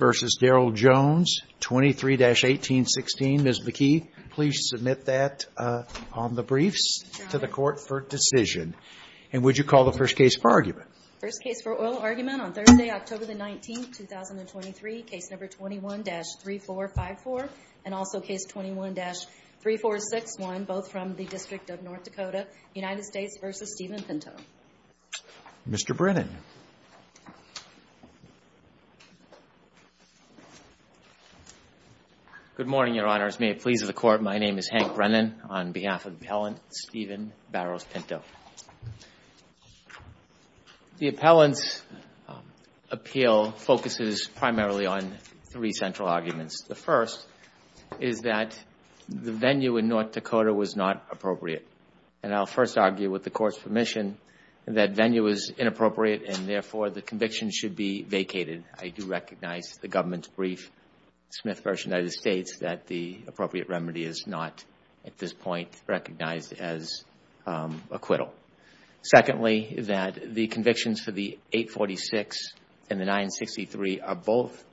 v. Daryl Jones, 23-1816. Ms. McKee, please submit that on the briefs to the Court for decision. And would you call the first case for argument? First case for oral argument on Thursday, October 19, 2023, case number 21-3454 and also case 21-3461, both from the District of North Dakota, United States v. Steven Pinto. Mr. Brennan. Good morning, Your Honors. May it please the Court, my name is Hank Brennan. On behalf of the appellant, Steven Barrows Pinto. The appellant's appeal focuses primarily on three central arguments. The first is that the venue in North Dakota was not appropriate. And I'll first argue with the Court's permission that venue is inappropriate and therefore the conviction should be vacated. I do recognize the government's brief, Smith v. United States, that the appropriate remedy is not at this point recognized as acquittal. Secondly, that the convictions for the 846 and the 963 are both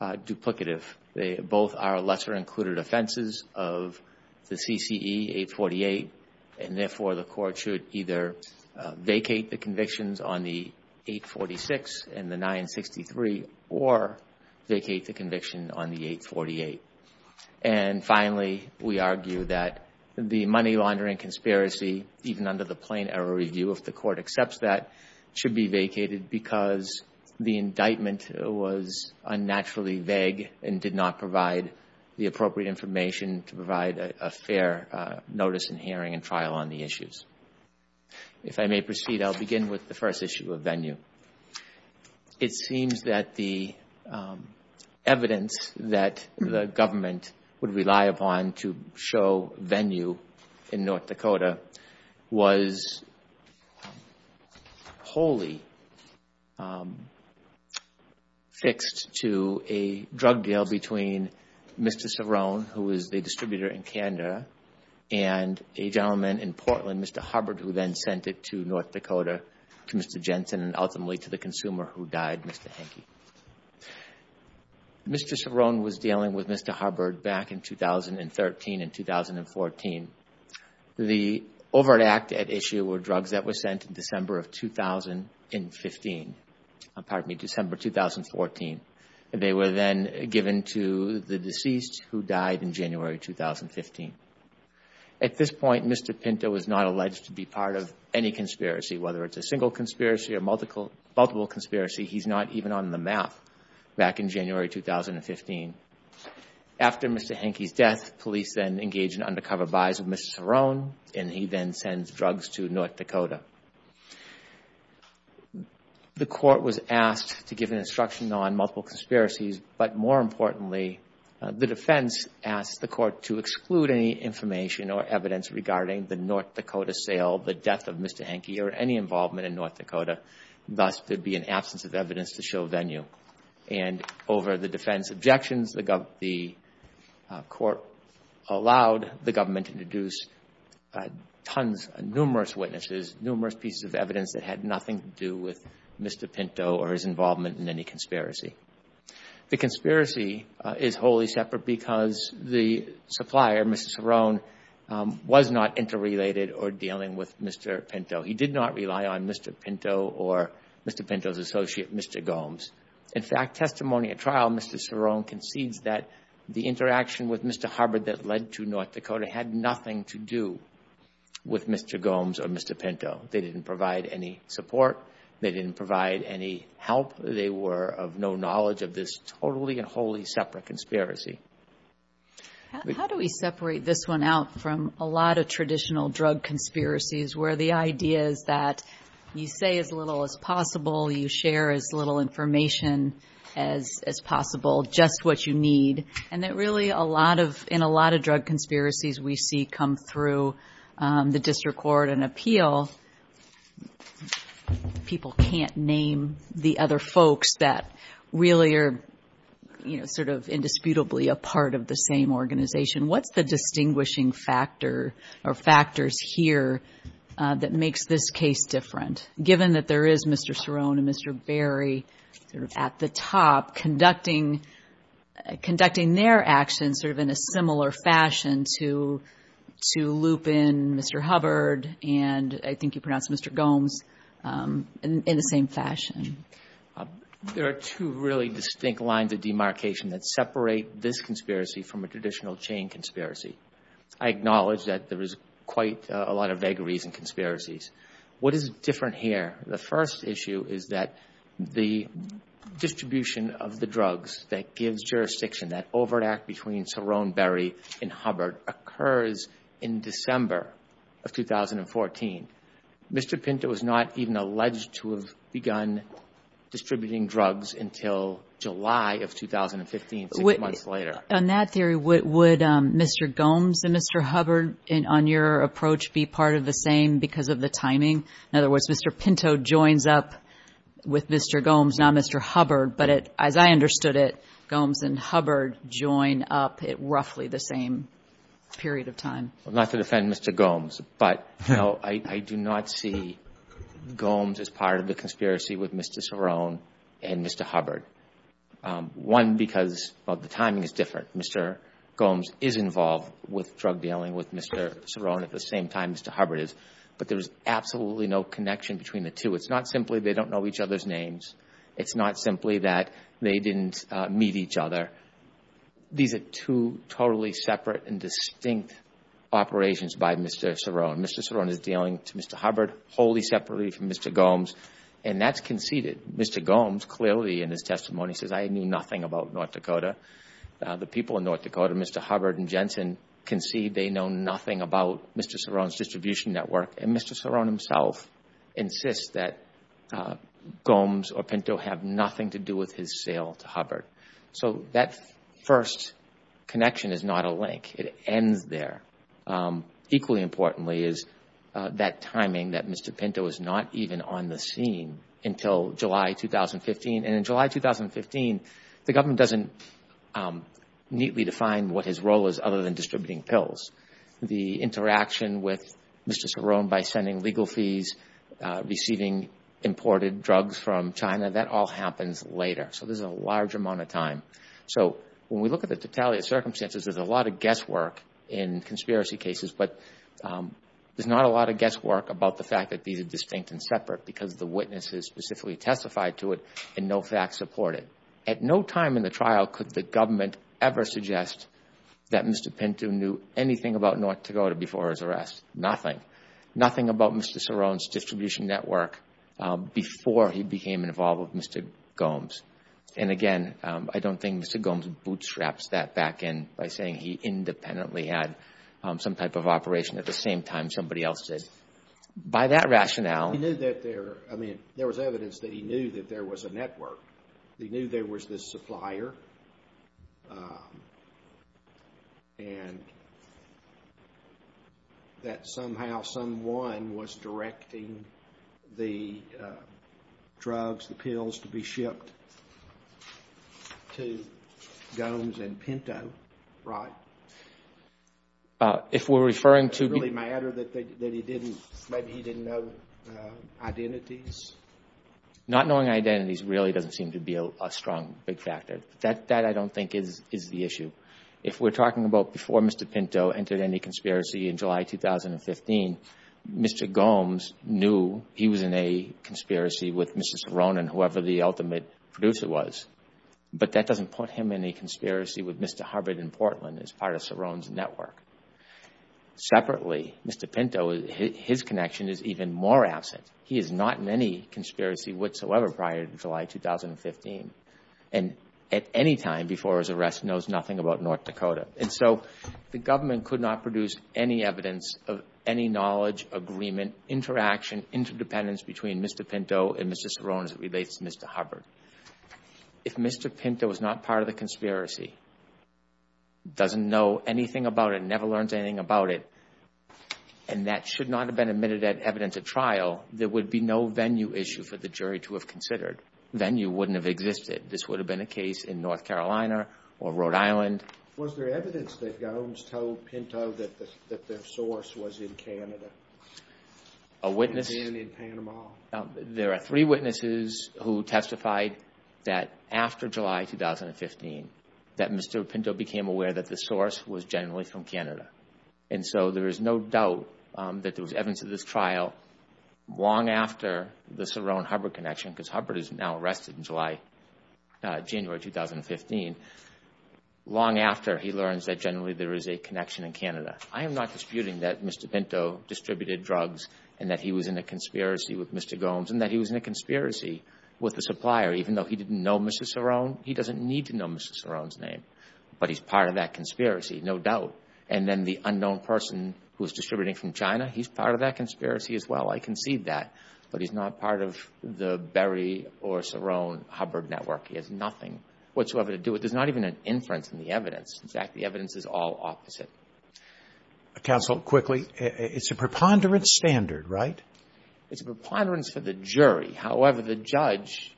duplicative. They both are lesser included offenses of the CCE 848 and therefore the Court should either vacate the convictions on the 846 and the 963 or vacate the conviction on the 848. And finally, we argue that the money laundering conspiracy, even under the plain error review if the Court accepts that, should be vacated because the indictment was unnaturally vague and did not provide the appropriate information to provide a fair notice and hearing and trial on the issues. If I may proceed, I'll begin with the first issue of venue. It seems that the evidence that the government would rely upon to show venue in North Dakota was wholly fixed to a drug deal between Mr. Cerrone, who is the distributor in Canada, and a gentleman in Portland, Mr. Hubbard, who then sent it to North Dakota to Mr. Jensen and ultimately to the consumer who died, Mr. Henke. Mr. Cerrone was dealing with Mr. Hubbard back in 2013 and 2014. The overt act at issue were December of 2015, pardon me, December 2014. They were then given to the deceased who died in January 2015. At this point, Mr. Pinto was not alleged to be part of any conspiracy, whether it's a single conspiracy or multiple conspiracy. He's not even on the map back in January 2015. After Mr. Henke's death, police then engage in undercover buys of Mr. Cerrone and he then sends drugs to North Dakota. The court was asked to give an instruction on multiple conspiracies, but more importantly, the defense asked the court to exclude any information or evidence regarding the North Dakota sale, the death of Mr. Henke, or any involvement in North Dakota. Thus, there'd be an absence of evidence to show venue. And over the defense objections, the court allowed the government to deduce tons, numerous witnesses, numerous pieces of evidence that had nothing to do with Mr. Pinto or his involvement in any conspiracy. The conspiracy is wholly separate because the supplier, Mr. Cerrone, was not interrelated or dealing with Mr. Pinto. He did not rely on Mr. Pinto or Mr. Pinto's associate, Mr. Gomes. In fact, testimony at trial, Mr. Cerrone concedes that the interaction with Mr. Harbord that led to North Dakota had nothing to do with Mr. Gomes or Mr. Pinto. They didn't provide any support. They didn't provide any help. They were of no knowledge of this totally and wholly separate conspiracy. How do we separate this one out from a lot of traditional drug conspiracies where the information as possible, just what you need, and that really in a lot of drug conspiracies we see come through the district court and appeal, people can't name the other folks that really are sort of indisputably a part of the same organization. What's the distinguishing factor or factors here that makes this case different? Given that there is Mr. Cerrone and Mr. Berry sort of at the top conducting their actions sort of in a similar fashion to Lupin, Mr. Harbord, and I think you pronounced Mr. Gomes, in the same fashion. There are two really distinct lines of demarcation that separate this conspiracy from a traditional chain conspiracy. I acknowledge that there is quite a lot of vagaries in conspiracies. What is different here? The first issue is that the distribution of the drugs that gives jurisdiction, that overt act between Cerrone, Berry, and Harbord occurs in December of 2014. Mr. Pinto was not even alleged to have begun distributing drugs until July of 2015, six months later. On that theory, would Mr. Gomes and Mr. Harbord, on your approach, be part of the same because of the timing? In other words, Mr. Pinto joins up with Mr. Gomes, not Mr. Harbord, but as I understood it, Gomes and Harbord join up at roughly the same period of time. Not to defend Mr. Gomes, but I do not see Gomes as part of the conspiracy with Mr. Cerrone and Mr. Harbord. One, because the timing is different. Mr. Gomes is involved with drug but there is absolutely no connection between the two. It's not simply they don't know each other's names. It's not simply that they didn't meet each other. These are two totally separate and distinct operations by Mr. Cerrone. Mr. Cerrone is dealing to Mr. Harbord wholly separately from Mr. Gomes and that's conceded. Mr. Gomes clearly in his testimony says, I knew nothing about North Dakota. The people in North Dakota, Mr. Harbord and Jensen, concede they know nothing about Mr. Cerrone's distribution network. Mr. Cerrone himself insists that Gomes or Pinto have nothing to do with his sale to Harbord. That first connection is not a link. It ends there. Equally importantly is that timing that Mr. Pinto is not even on the scene until July 2015. In July 2015, the government doesn't neatly define what his role is other than distributing pills. The interaction with Mr. Cerrone by sending legal fees, receiving imported drugs from China, that all happens later. There's a large amount of time. When we look at the totality of circumstances, there's a lot of guesswork in conspiracy cases but there's not a lot of guesswork about the fact that these are distinct and separate because the witnesses specifically testified to it and no facts support it. At no time in the trial could the government ever suggest that Mr. Pinto knew anything about North Dakota before his arrest. Nothing. Nothing about Mr. Cerrone's distribution network before he became involved with Mr. Gomes. Again, I don't think Mr. Gomes bootstraps that back in by saying he independently had some type of operation at the same time somebody else did. By that rationale... He knew that there, I mean, there was evidence that he knew that there was a network. He knew there was this supplier and that somehow someone was directing the drugs, the pills to be shipped to Gomes and Pinto, right? If we're referring to... Does it matter that maybe he didn't know identities? Not knowing identities really doesn't seem to be a strong big factor. That, I don't think, is the issue. If we're talking about before Mr. Pinto entered any conspiracy in July 2015, Mr. Gomes knew he was in a conspiracy with Mr. Cerrone and whoever the ultimate producer was, but that doesn't put him in a conspiracy with Mr. Hubbard in Portland as part of Cerrone's network. Mr. Pinto, his connection is even more absent. He is not in any conspiracy whatsoever prior to July 2015. At any time before his arrest, he knows nothing about North Dakota. The government could not produce any evidence of any knowledge, agreement, interaction, interdependence between Mr. Pinto and Mr. Cerrone as it relates to Mr. Hubbard. If Mr. Pinto is not part of the conspiracy, doesn't know anything about it, never learns anything about it, and that should not have been admitted as evidence at trial, there would be no venue issue for the jury to have considered. Venue wouldn't have existed. This would have been a case in North Carolina or Rhode Island. Was there evidence that Gomes told Pinto that their source was in Canada? A witness... And in Panama. There are three witnesses who testified that after July 2015, that Mr. Pinto became aware that the source was generally from Canada. There is no doubt that there was evidence at this trial long after the Cerrone-Hubbard connection, because Hubbard is now arrested in January 2015, long after he learns that generally there is a connection in Canada. I am not disputing that Mr. Pinto distributed drugs and that he was in a conspiracy with Mr. Gomes and that he was in a conspiracy with the supplier. Even though he didn't know Mr. Cerrone's name, but he's part of that conspiracy, no doubt. And then the unknown person who was distributing from China, he's part of that conspiracy as well. I concede that, but he's not part of the Berry or Cerrone-Hubbard network. He has nothing whatsoever to do with it. There's not even an inference in the evidence. In fact, the evidence is all opposite. Counsel, quickly, it's a preponderance standard, right? It's a preponderance for the jury. However, the judge,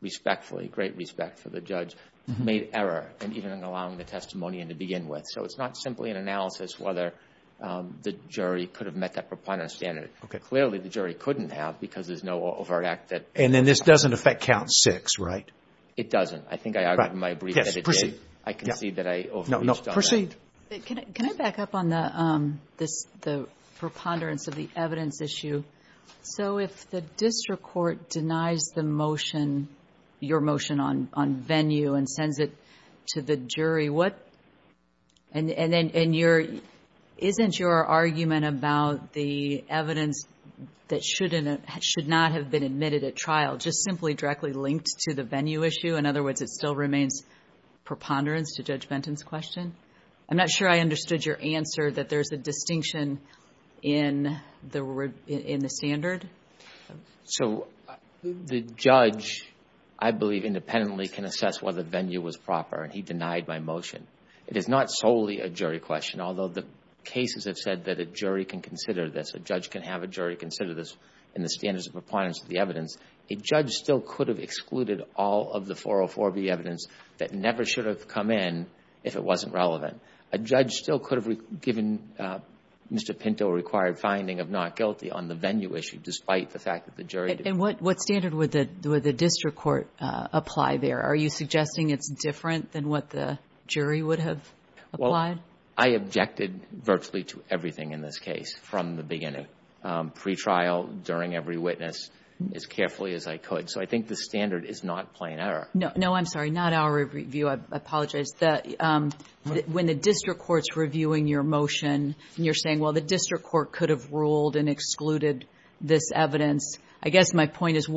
respectfully, great respect for the judge, made error in even allowing the testimony in to begin with. So it's not simply an analysis whether the jury could have met that preponderance standard. Clearly, the jury couldn't have because there's no overt act that... And then this doesn't affect count six, right? It doesn't. I think I argued in my brief that it did. I concede that I overreached on that. Can I back up on the preponderance of the evidence issue? So if the district court denies the motion, your motion on venue and sends it to the jury, what... And isn't your argument about the evidence that should not have been admitted at trial just simply directly linked to the venue issue? In other words, it still remains preponderance to Judge Benton's question? I'm not sure I understood your answer that there's a distinction in the standard. So the judge, I believe, independently can assess whether venue was proper and he denied my motion. It is not solely a jury question, although the cases have said that a jury can consider this, a judge can have a jury consider this in the standards of preponderance of the evidence. A judge still could have excluded all of the 404B evidence that never should have come in if it wasn't relevant. A judge still could have given Mr. Pinto a required finding of not guilty on the venue issue, despite the fact that the jury... And what standard would the district court apply there? Are you suggesting it's different than what the jury would have applied? Well, I objected virtually to everything in this case from the beginning. Pretrial, during every witness, as carefully as I could. So I think the standard is not plain error. No, I'm sorry, not our review. I apologize. When the district court's reviewing your motion, and you're saying, well, the district court could have ruled and excluded this evidence, I guess my point is,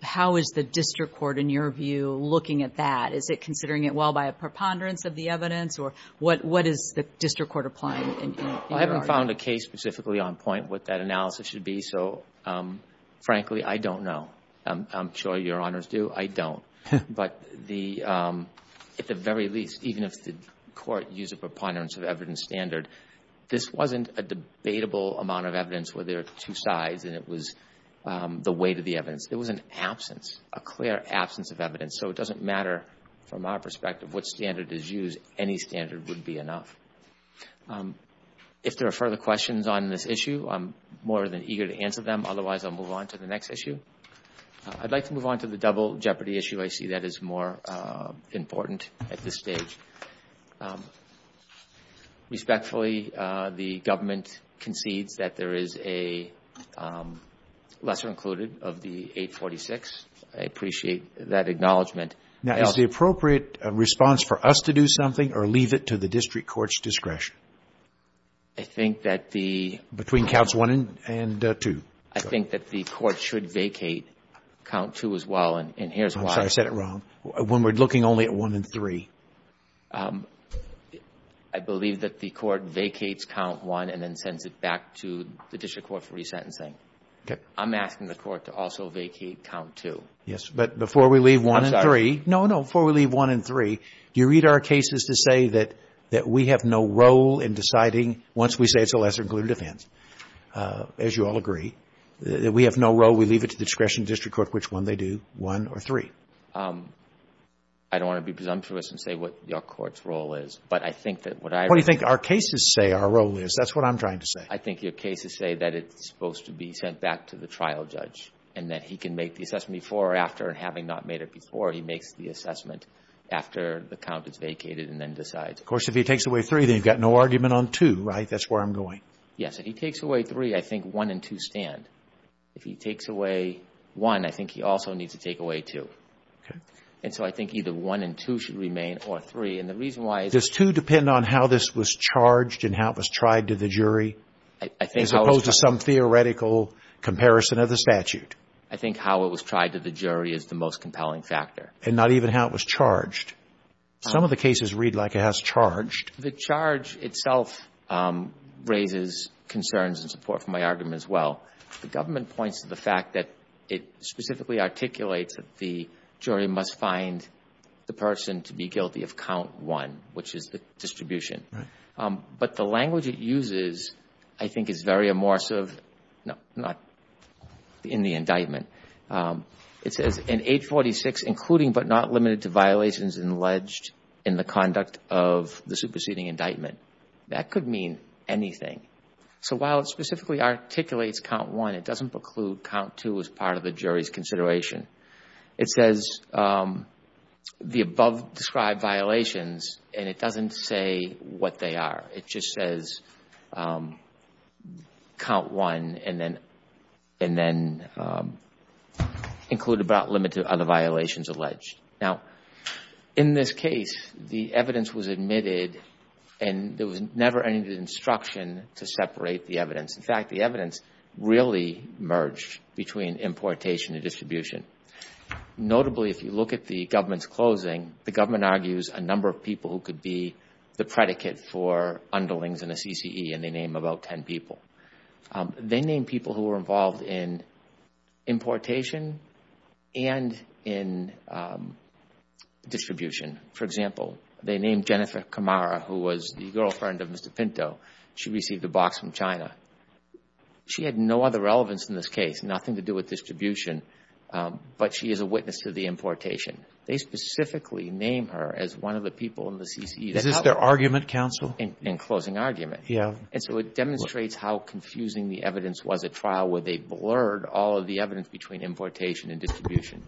how is the district court, in your view, looking at that? Is it considering it, well, by a preponderance of the evidence? Or what is the district court applying in your argument? I haven't found a case specifically on point what that analysis should be. So, frankly, I don't know. I'm sure Your Honors do. I don't. But at the very least, even if the court used a preponderance of evidence standard, this wasn't a debatable amount of evidence where there are two sides, and it was the weight of the evidence. It was an absence, a clear absence of evidence. So it doesn't matter, from our perspective, what standard is used. Any standard would be enough. If there are further questions on this issue, I'm more than eager to answer them. Otherwise, I'll move on to the next issue. I'd like to move on to the double jeopardy issue. I see that as more important at this stage. Respectfully, the government concedes that there is a lesser included of the 846. I appreciate that acknowledgement. Now, is the appropriate response for us to do something or leave it to the district court's discretion? I think that the Between counts 1 and 2. I think that the court should vacate count 2 as well. And here's why. Sorry, I said it wrong. When we're looking only at 1 and 3. I believe that the court vacates count 1 and then sends it back to the district court for resentencing. Okay. I'm asking the court to also vacate count 2. Yes. But before we leave 1 and 3. I'm sorry. No, no. Before we leave 1 and 3, you read our cases to say that we have no role in deciding once we say it's a lesser included offense. As you all agree, we have no role. We leave it to the discretion of the district court, which one they do, 1 or 3. I don't want to be presumptuous and say what your court's role is. But I think that what I What do you think our cases say our role is? That's what I'm trying to say. I think your cases say that it's supposed to be sent back to the trial judge and that he can make the assessment before or after. And having not made it before, he makes the assessment after the count is vacated and then decides. Of course, if he takes away 3, then you've got no argument on 2, right? That's where I'm going. Yes. If he takes away 3, I think 1 and 2 stand. If he takes away 1, I think he also needs to take away 2. And so I think either 1 and 2 should remain or 3. And the reason why Does 2 depend on how this was charged and how it was tried to the jury as opposed to some theoretical comparison of the statute? I think how it was tried to the jury is the most compelling factor. And not even how it was charged. Some of the cases read like it has charged. The charge itself raises concerns and support for my argument as well. The government points to the fact that it specifically articulates that the jury must find the person to be guilty of count 1, which is the distribution. But the language it uses, I think, is very immersive. Not in the indictment. It says, in 846, including but not limited to violations alleged in the preceding indictment. That could mean anything. So while it specifically articulates count 1, it doesn't preclude count 2 as part of the jury's consideration. It says the above described violations and it doesn't say what they are. It just says count 1 and then include but not limited to other violations alleged. Now in this case, the evidence was admitted and there was never any instruction to separate the evidence. In fact, the evidence really merged between importation and distribution. Notably if you look at the government's closing, the government argues a number of people who could be the predicate for underlings in the CCE and they name about 10 people. They name people who were involved in importation and in distribution. For example, they named Jennifer Camara, who was the girlfriend of Mr. Pinto. She received a box from China. She had no other relevance in this case, nothing to do with distribution, but she is a witness to the importation. They specifically name her as one of the people in the CCE. Is this their argument, counsel? In closing argument, it demonstrates how confusing the evidence was at trial where they blurred all of the evidence between importation and distribution.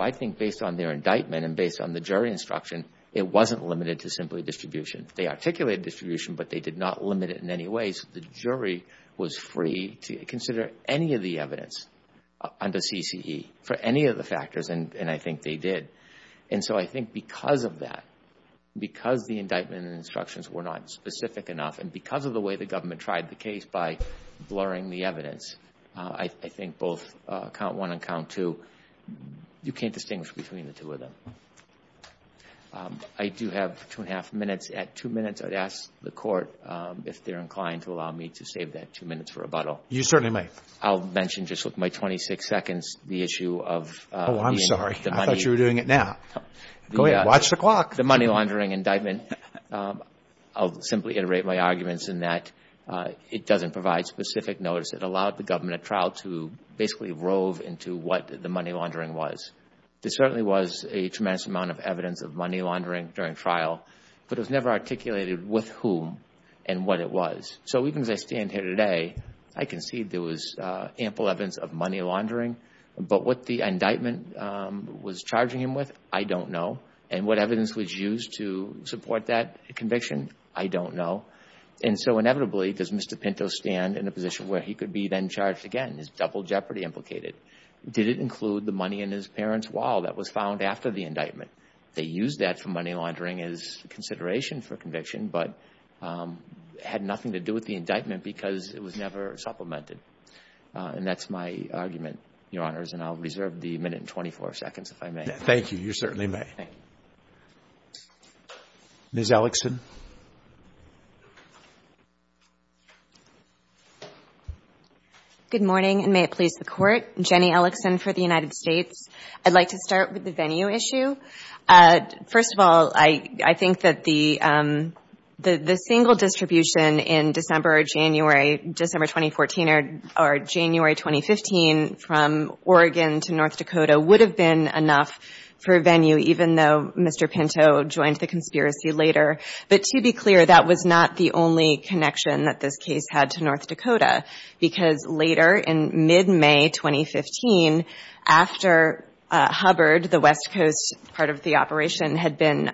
I think based on their indictment and based on the jury instruction, it wasn't limited to simply distribution. They articulated distribution but they did not limit it in any way so the jury was free to consider any of the evidence under CCE for any of the factors and I think they did. So I think because of that, because the indictment and instructions were not specific enough and because of the way the government tried the case by blurring the evidence, I think both count one and count two, you can't distinguish between the two of them. I do have two and a half minutes. At two minutes, I would ask the Court if they are inclined to allow me to save that two minutes for rebuttal. You certainly may. I'll mention just with my 26 seconds the issue of the money. I thought you were doing it now. Go ahead. Watch the clock. The money laundering indictment, I'll simply iterate my arguments in that it doesn't provide specific notice. It allowed the government at trial to basically rove into what the money laundering was. There certainly was a tremendous amount of evidence of money laundering during trial but it was never articulated with whom and what it was. So even as I stand here today, I can see there was ample evidence of money laundering but what the indictment was charging him with, I don't know. And what evidence was used to support that conviction, I don't know. And so inevitably, does Mr. Pinto stand in a position where he could be then charged again? Is double jeopardy implicated? Did it include the money in his parents' wall that was found after the indictment? They used that for money laundering as consideration for conviction but had nothing to do with the indictment because it was never supplemented. And that's my argument, Your Honors, and I'll reserve the minute and 24 seconds, if I may. Thank you. You certainly may. Ms. Ellickson. Good morning, and may it please the Court. Jenny Ellickson for the United States. I'd like to start with the venue issue. First of all, I think that the single distribution in December or January 2014 or January 2015 from Oregon to North Dakota would have been enough for a venue, even though Mr. Pinto joined the conspiracy later. But to be clear, that was not the only connection that this case had to North Dakota because later in mid-May 2015, after Hubbard, the West Coast part of the operation, had been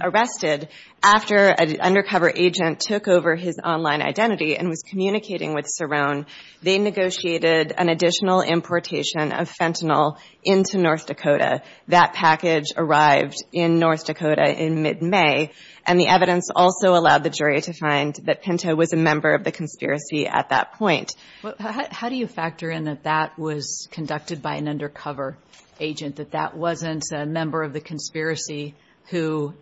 arrested, after an undercover agent took over his online identity and was communicating with Cerrone, they negotiated an additional importation of fentanyl into North Dakota. That package arrived in North Dakota in mid-May, and the evidence also allowed the jury to find that Pinto was a member of the conspiracy at that point. How do you factor in that that was conducted by an undercover agent, that that wasn't a member of the conspiracy who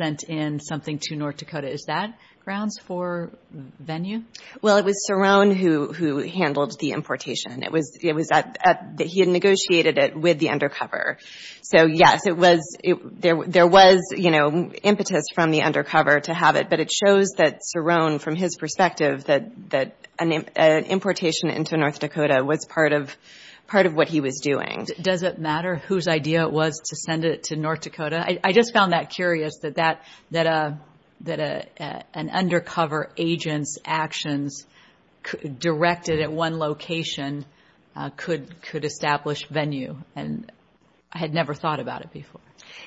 sent in something to North Dakota? Is that grounds for venue? Well, it was Cerrone who handled the importation. It was that he had negotiated it with the undercover. So yes, there was impetus from the undercover to have it, but it shows that Cerrone, from his perspective, that an importation into North Dakota was part of what he was doing. Does it matter whose idea it was to send it to North Dakota? I just found that curious, that an undercover agent's actions directed at one location could establish venue, and I had never thought about it before.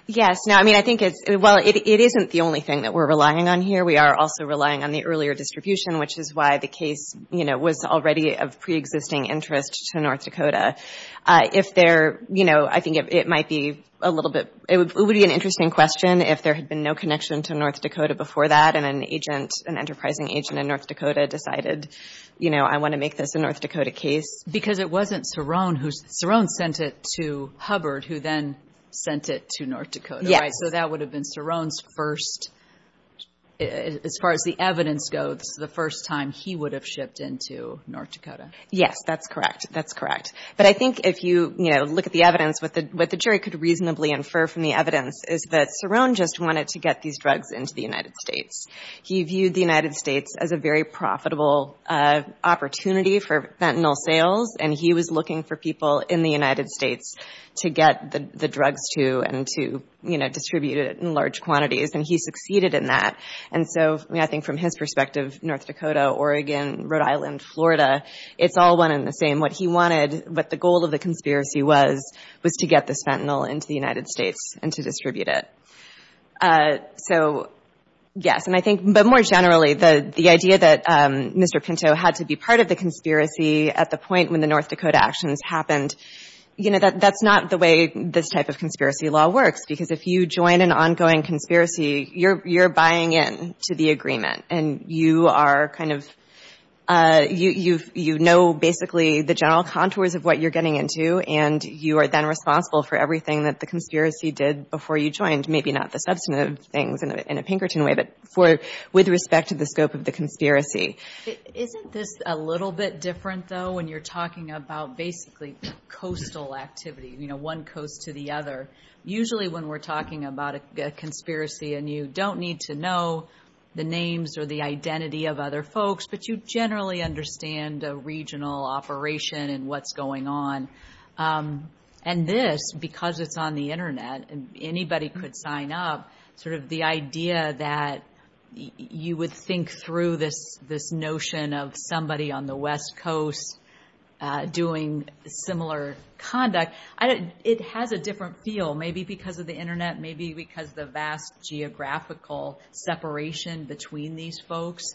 Yes. Well, it isn't the only thing that we're relying on here. We are also relying on the earlier distribution, which is why the case was already of pre-existing interest to North Dakota. If there, you know, I think it might be a little bit, it would be an interesting question if there had been no connection to North Dakota before that, and an agent, an enterprising agent in North Dakota decided, you know, I want to make this a North Dakota case. Because it wasn't Cerrone who, Cerrone sent it to Hubbard, who then sent it to North Dakota, right? So that would have been Cerrone's first, as far as the evidence goes, the first time he would have shipped into North Dakota. Yes, that's correct. That's correct. But I think if you, you know, look at the evidence, what the jury could reasonably infer from the evidence is that Cerrone just wanted to get these drugs into the United States. He viewed the United States as a very profitable opportunity for fentanyl sales, and he was looking for people in the United States to get the drugs to and to, you know, distribute it in large quantities, and he succeeded in that. And so, I think from his perspective, North Dakota, Oregon, Rhode Island, Florida, it's all one and the same. What he wanted, what the goal of the conspiracy was, was to get this fentanyl into the United States and to distribute it. So, yes, and I think, but more generally, the idea that Mr. Pinto had to be part of the conspiracy at the point when the North Dakota actions happened, you know, that's not the way this type of conspiracy law works, because if you join an to the agreement, and you are kind of, you know basically the general contours of what you're getting into, and you are then responsible for everything that the conspiracy did before you joined, maybe not the substantive things in a Pinkerton way, but with respect to the scope of the conspiracy. Isn't this a little bit different, though, when you're talking about basically coastal activity, you know, one coast to the other? Usually when we're talking about a conspiracy, and you don't need to know the names or the identity of other folks, but you generally understand a regional operation and what's going on. And this, because it's on the internet, and anybody could sign up, sort of the idea that you would think through this notion of somebody on the west coast doing similar conduct, it has a different feel, maybe because of the internet, maybe because of the vast geographical separation between these folks.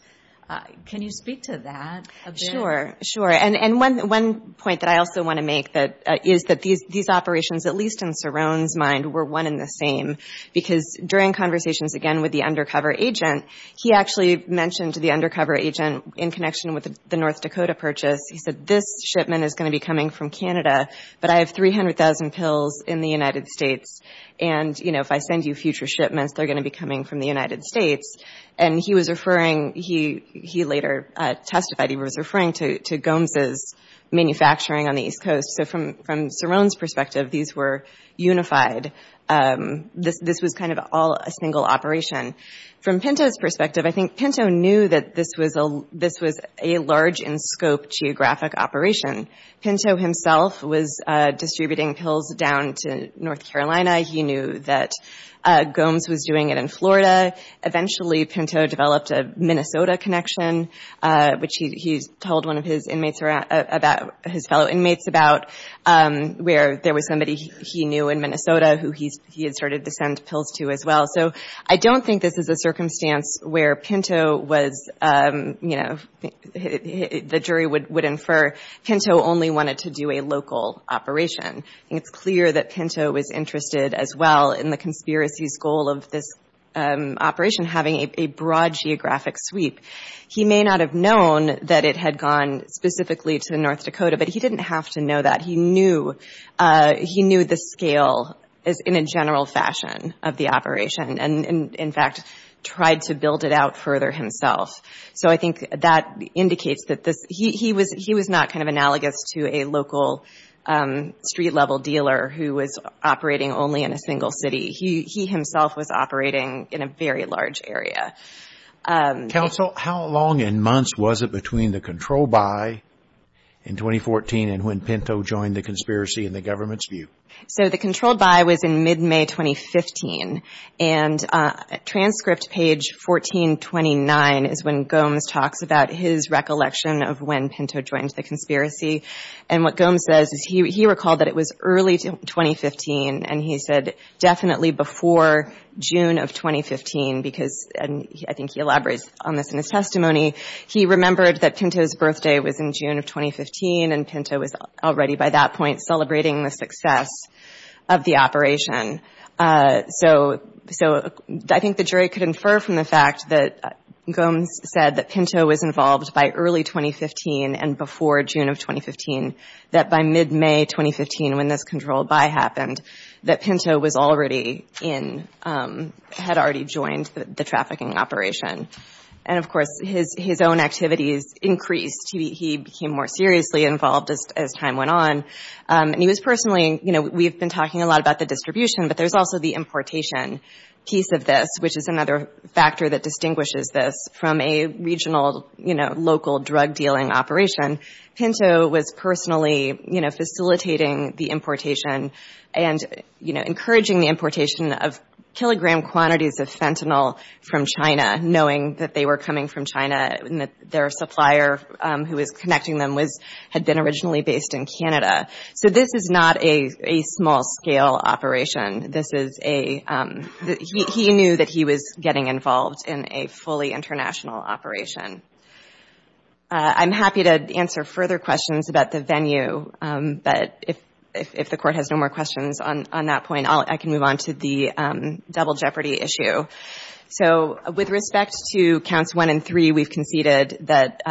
Can you speak to that? Sure, sure. And one point that I also want to make is that these operations, at least in Cerrone's mind, were one and the same, because during conversations again with the undercover agent, he actually mentioned to the undercover agent in connection with the North Dakota purchase, he said this shipment is going to be coming from Canada, but I have 300,000 pills in the United States, and if I send you future shipments, they're going to be coming from the United States. And he was referring, he later testified, he was referring to Gomes' manufacturing on the east coast. So from Cerrone's perspective, these were unified. This was kind of all a single operation. From Pinto's perspective, I think Pinto knew that this was a large in scope geographic operation. Pinto himself was distributing pills down to North Carolina. He knew that Gomes was doing it in Florida. Eventually Pinto developed a Minnesota connection, which he told one of his inmates, his fellow inmates about, where there was somebody he knew in Minnesota who he had started to send pills to as well. So I don't think this is a circumstance where Pinto was, you know, the jury would infer Pinto only wanted to do a local operation. It's clear that Pinto was interested as well in the conspiracy's goal of this operation having a broad geographic sweep. He may not have known that it had gone specifically to North Dakota, but he didn't have to know that. He knew the scale in a general fashion of the operation, and in fact tried to build it out further himself. So I think that indicates that he was not kind of analogous to a local street level dealer who was operating only in a single city. He himself was operating in a very large area. Counsel, how long in months was it between the control buy in 2014 and when Pinto joined the conspiracy in the government's view? So the control buy was in mid-May 2015, and transcript page 1429 is when Gomes talks about his recollection of when Pinto joined the conspiracy, and what Gomes says is he recalled that it was early 2015, and he said definitely before June of 2015 because, and I think he elaborates on this in his testimony, he remembered that Pinto's birthday was in June of 2015, and Pinto was already by that point celebrating the So I think the jury could infer from the fact that Gomes said that Pinto was involved by early 2015 and before June of 2015, that by mid-May 2015 when this control buy happened, that Pinto had already joined the trafficking operation, and of course his own activities increased. He became more seriously involved as time went on, and he was personally, you know, we've been talking a lot about the distribution, but there's also the importation piece of this, which is another factor that distinguishes this from a regional, you know, local drug dealing operation. Pinto was personally, you know, facilitating the importation and, you know, encouraging the importation of kilogram quantities of fentanyl from China, knowing that they were coming from China and that their supplier who was connecting them had been originally based in Canada. So this is not a small-scale operation. This is a, he knew that he was getting involved in a fully international operation. I'm happy to answer further questions about the venue, but if the Court has no more questions on that point, I can move on to the double jeopardy issue. So with respect to counts one and three, we've conceded that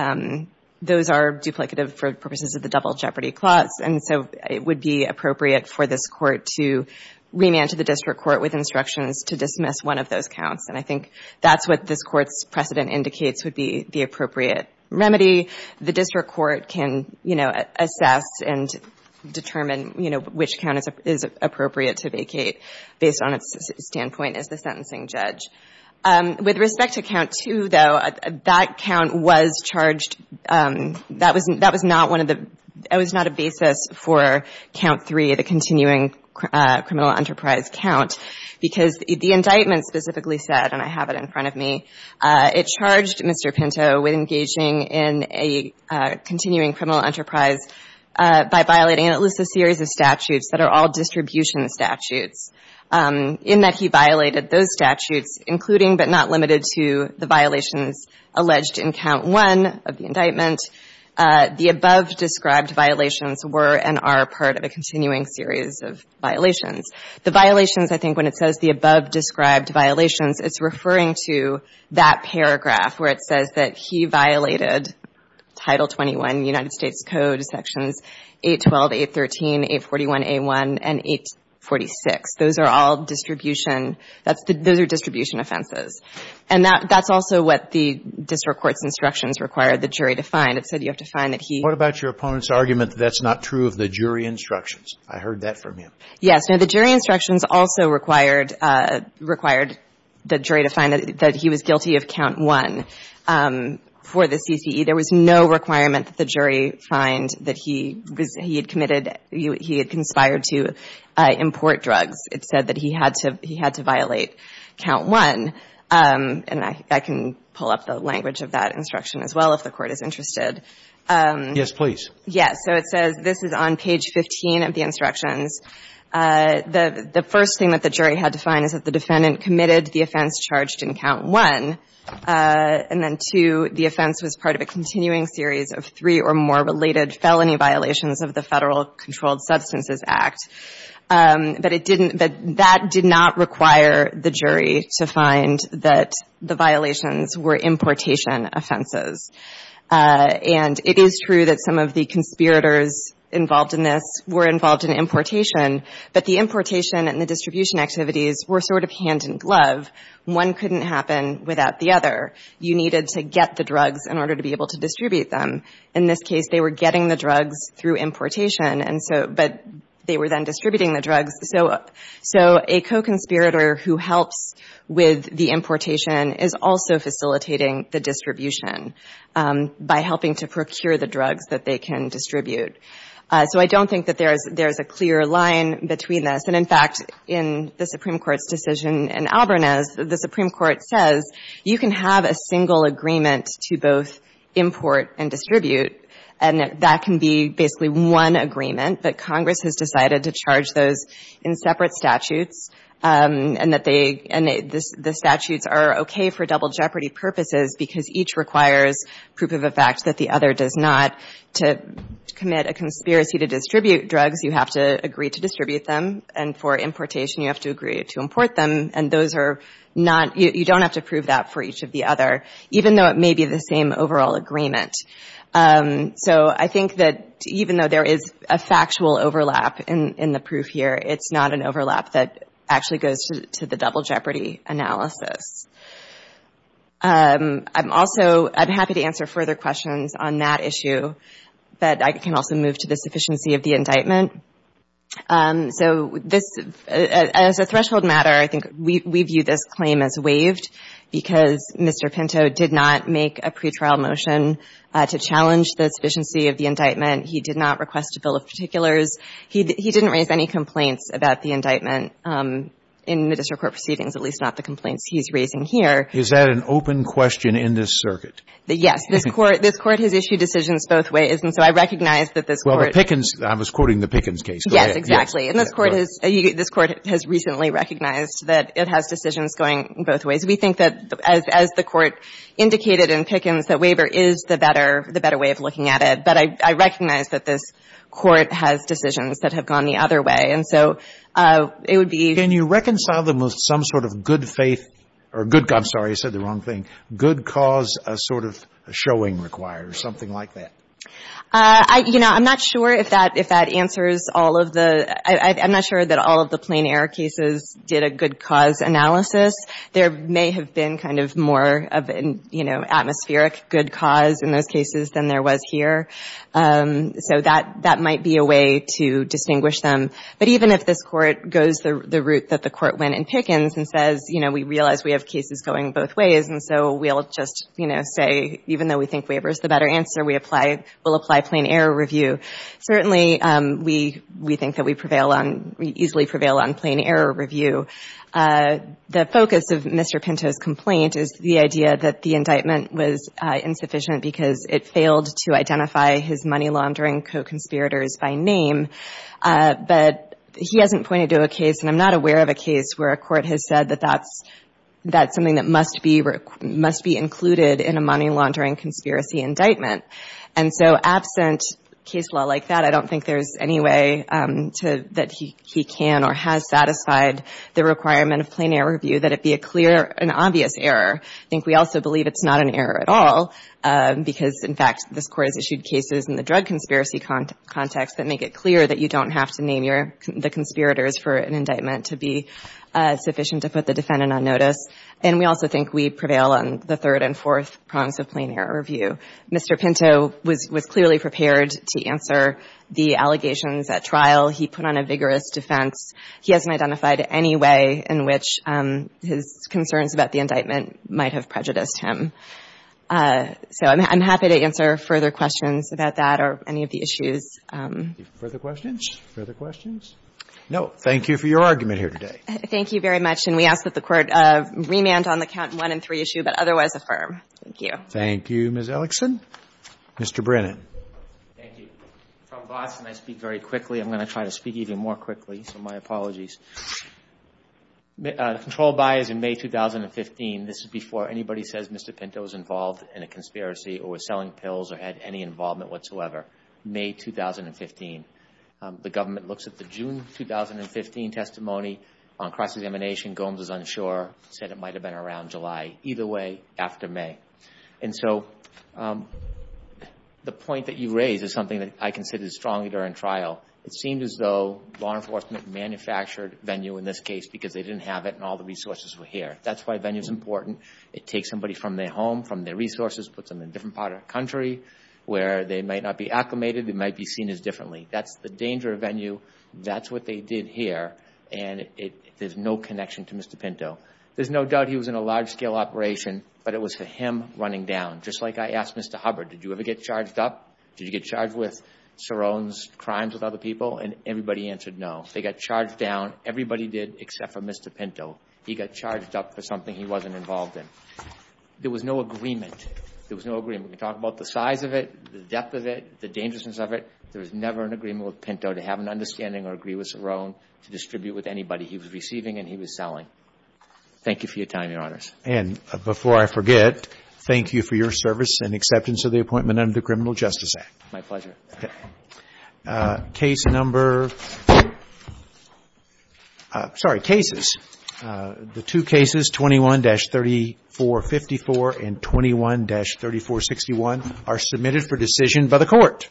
those are duplicative for purposes of the double jeopardy clause, and so it would be appropriate for this Court to remand to the District Court with instructions to dismiss one of those counts, and I think that's what this Court's precedent indicates would be the appropriate remedy. The District Court can, you know, assess and determine, you know, which count is appropriate to vacate based on its standpoint as the sentencing judge. With respect to count two, though, that count was charged, that was not one of the, that was not a basis for count three, the continuing criminal enterprise count, because the indictment specifically said, and I have it in front of me, it charged Mr. Pinto with engaging in a continuing criminal enterprise by violating at least a including but not limited to the violations alleged in count one of the indictment. The above described violations were and are part of a continuing series of violations. The violations, I think when it says the above described violations, it's referring to that paragraph where it says that he violated Title 21 United States Code sections 812, 813, 841A1, and 846. Those are all distribution, that's the, those are distribution offenses. And that, that's also what the District Court's instructions required the jury to find. It said you have to find that he. What about your opponent's argument that that's not true of the jury instructions? I heard that from him. Yes. Now, the jury instructions also required, required the jury to find that he was guilty of count one for the CCE. There was no requirement that the jury find that he was, he had committed, he had conspired to import drugs. It said that he had to, he had to violate count one. And I, I can pull up the language of that instruction as well if the Court is interested. Yes, please. Yes. So it says, this is on page 15 of the instructions. The, the first thing that the jury had to find is that the defendant committed the offense charged in count one. And then two, the offense was part of a continuing series of three or more related felony violations of the Federal Controlled Substances Act. But it didn't, but that did not require the jury to find that the violations were importation offenses. And it is true that some of the conspirators involved in this were involved in importation. But the importation and the distribution activities were sort of hand in glove. One couldn't happen without the other. You needed to get the drugs in order to be able to distribute them. In this case, they were getting the drugs through importation. And so, but they were then distributing the drugs. So, so a co-conspirator who helps with the importation is also facilitating the distribution by helping to procure the drugs that they can distribute. So I don't think that there is, there is a clear line between this. And in fact, in the Supreme Court's decision in Alberniz, the Supreme Court says you can have a single agreement to both import and distribute. And that can be basically one agreement. But Congress has decided to charge those in separate statutes. And that they, and the statutes are okay for double jeopardy purposes, because each requires proof of a fact that the other does not. To commit a conspiracy to distribute drugs, you have to agree to distribute them. And for importation, you have to agree to import them. And those are not, you don't have to prove that for each of the other, even though it may be the same overall agreement. So I think that even though there is a factual overlap in the proof here, it's not an overlap that actually goes to the double jeopardy analysis. I'm also, I'm happy to answer further questions on that issue, but I can also move to the sufficiency of the indictment. So this, as a threshold matter, I think we view this claim as waived, because Mr. Pinto did not make a pretrial motion to challenge the sufficiency of the indictment. He did not request a bill of particulars. He didn't raise any complaints about the indictment in the district court proceedings, at least not the complaints he's raising here. Is that an open question in this circuit? Yes. This Court has issued decisions both ways. And so I recognize that this Court Well, the Pickens, I was quoting the Pickens case. Yes, exactly. And this Court has recently recognized that it has decisions going both ways. We think that, as the Court indicated in Pickens, that waiver is the better way of looking at it. But I recognize that this Court has decisions that have gone the other way. And so it would be Can you reconcile them with some sort of good faith or good, I'm sorry, I said the wrong thing, good cause, a sort of showing requires, something like that? I, you know, I'm not sure if that answers all of the, I'm not sure that all of the plain error cases did a good cause analysis. There may have been kind of more of an, you know, atmospheric good cause in those cases than there was here. So that might be a way to distinguish them. But even if this Court goes the route that the Court went in Pickens and says, you know, we realize we have cases going both ways, and so we'll just, you know, say, even though we think waiver is the better answer, we'll apply plain error review, certainly we think that we prevail on, we easily prevail on plain error review. The focus of Mr. Pinto's complaint is the idea that the indictment was insufficient because it failed to identify his money laundering co-conspirators by name. But he hasn't pointed to a case, and I'm not aware of a case, where a Court has said that that's something that must be, must be included in a money laundering conspiracy indictment. And so absent case law like that, I don't think there's any way to, that he can or has satisfied the requirement of plain error review that it be a clear and obvious error. I think we also believe it's not an error at all because, in fact, this Court has issued cases in the drug conspiracy context that make it clear that you don't have to name your, the conspirators for an indictment to be sufficient to put the defendant on notice. And we also think we prevail on the third and fourth prongs of plain error review. Mr. Pinto was clearly prepared to answer the allegations at trial. He put on a vigorous defense. He hasn't identified any way in which his concerns about the indictment might have prejudiced him. So I'm happy to answer further questions about that or any of the issues. Further questions? Further questions? No. Thank you for your argument here today. Thank you very much. And we ask that the Court remand on the count one and three issue, but otherwise affirm. Thank you. Thank you, Ms. Ellickson. Mr. Brennan. Thank you. From Boston, I speak very quickly. I'm going to try to speak even more quickly, so my apologies. The control by is in May 2015. This is before anybody says Mr. Pinto was involved in a conspiracy or was selling pills or had any involvement whatsoever. May 2015. The government looks at the June 2015 testimony on cross-examination. Gomes is unsure. Said it might have been around July. Either way, after May. And so the point that you raise is something that I considered strongly during trial. It seemed as though law enforcement manufactured Venue in this case because they didn't have it and all the resources were here. That's why Venue's important. It takes somebody from their home, from their resources, puts them in a different part of the country where they might not be acclimated, they might be seen as differently. That's the danger of Venue. That's what they did here. And there's no connection to Mr. Pinto. There's no doubt he was in a large-scale operation, but it was for him running down. Just like I asked Mr. Hubbard, did you ever get charged up? Did you get charged with Saron's crimes with other people? And everybody answered no. They got charged down. Everybody did except for Mr. Pinto. He got charged up for something he wasn't involved in. There was no agreement. There was no agreement. We can talk about the size of it, the depth of it, the dangerousness of it. There was never an agreement with Pinto to have an understanding or agree with Saron to distribute with anybody he was receiving and he was selling. Thank you for your time, Your Honors. And before I forget, thank you for your service and acceptance of the appointment under the Criminal Justice Act. My pleasure. Okay. Case number... Sorry, cases. The two cases, 21-3454 and 21-3461, are submitted for decision by the Court.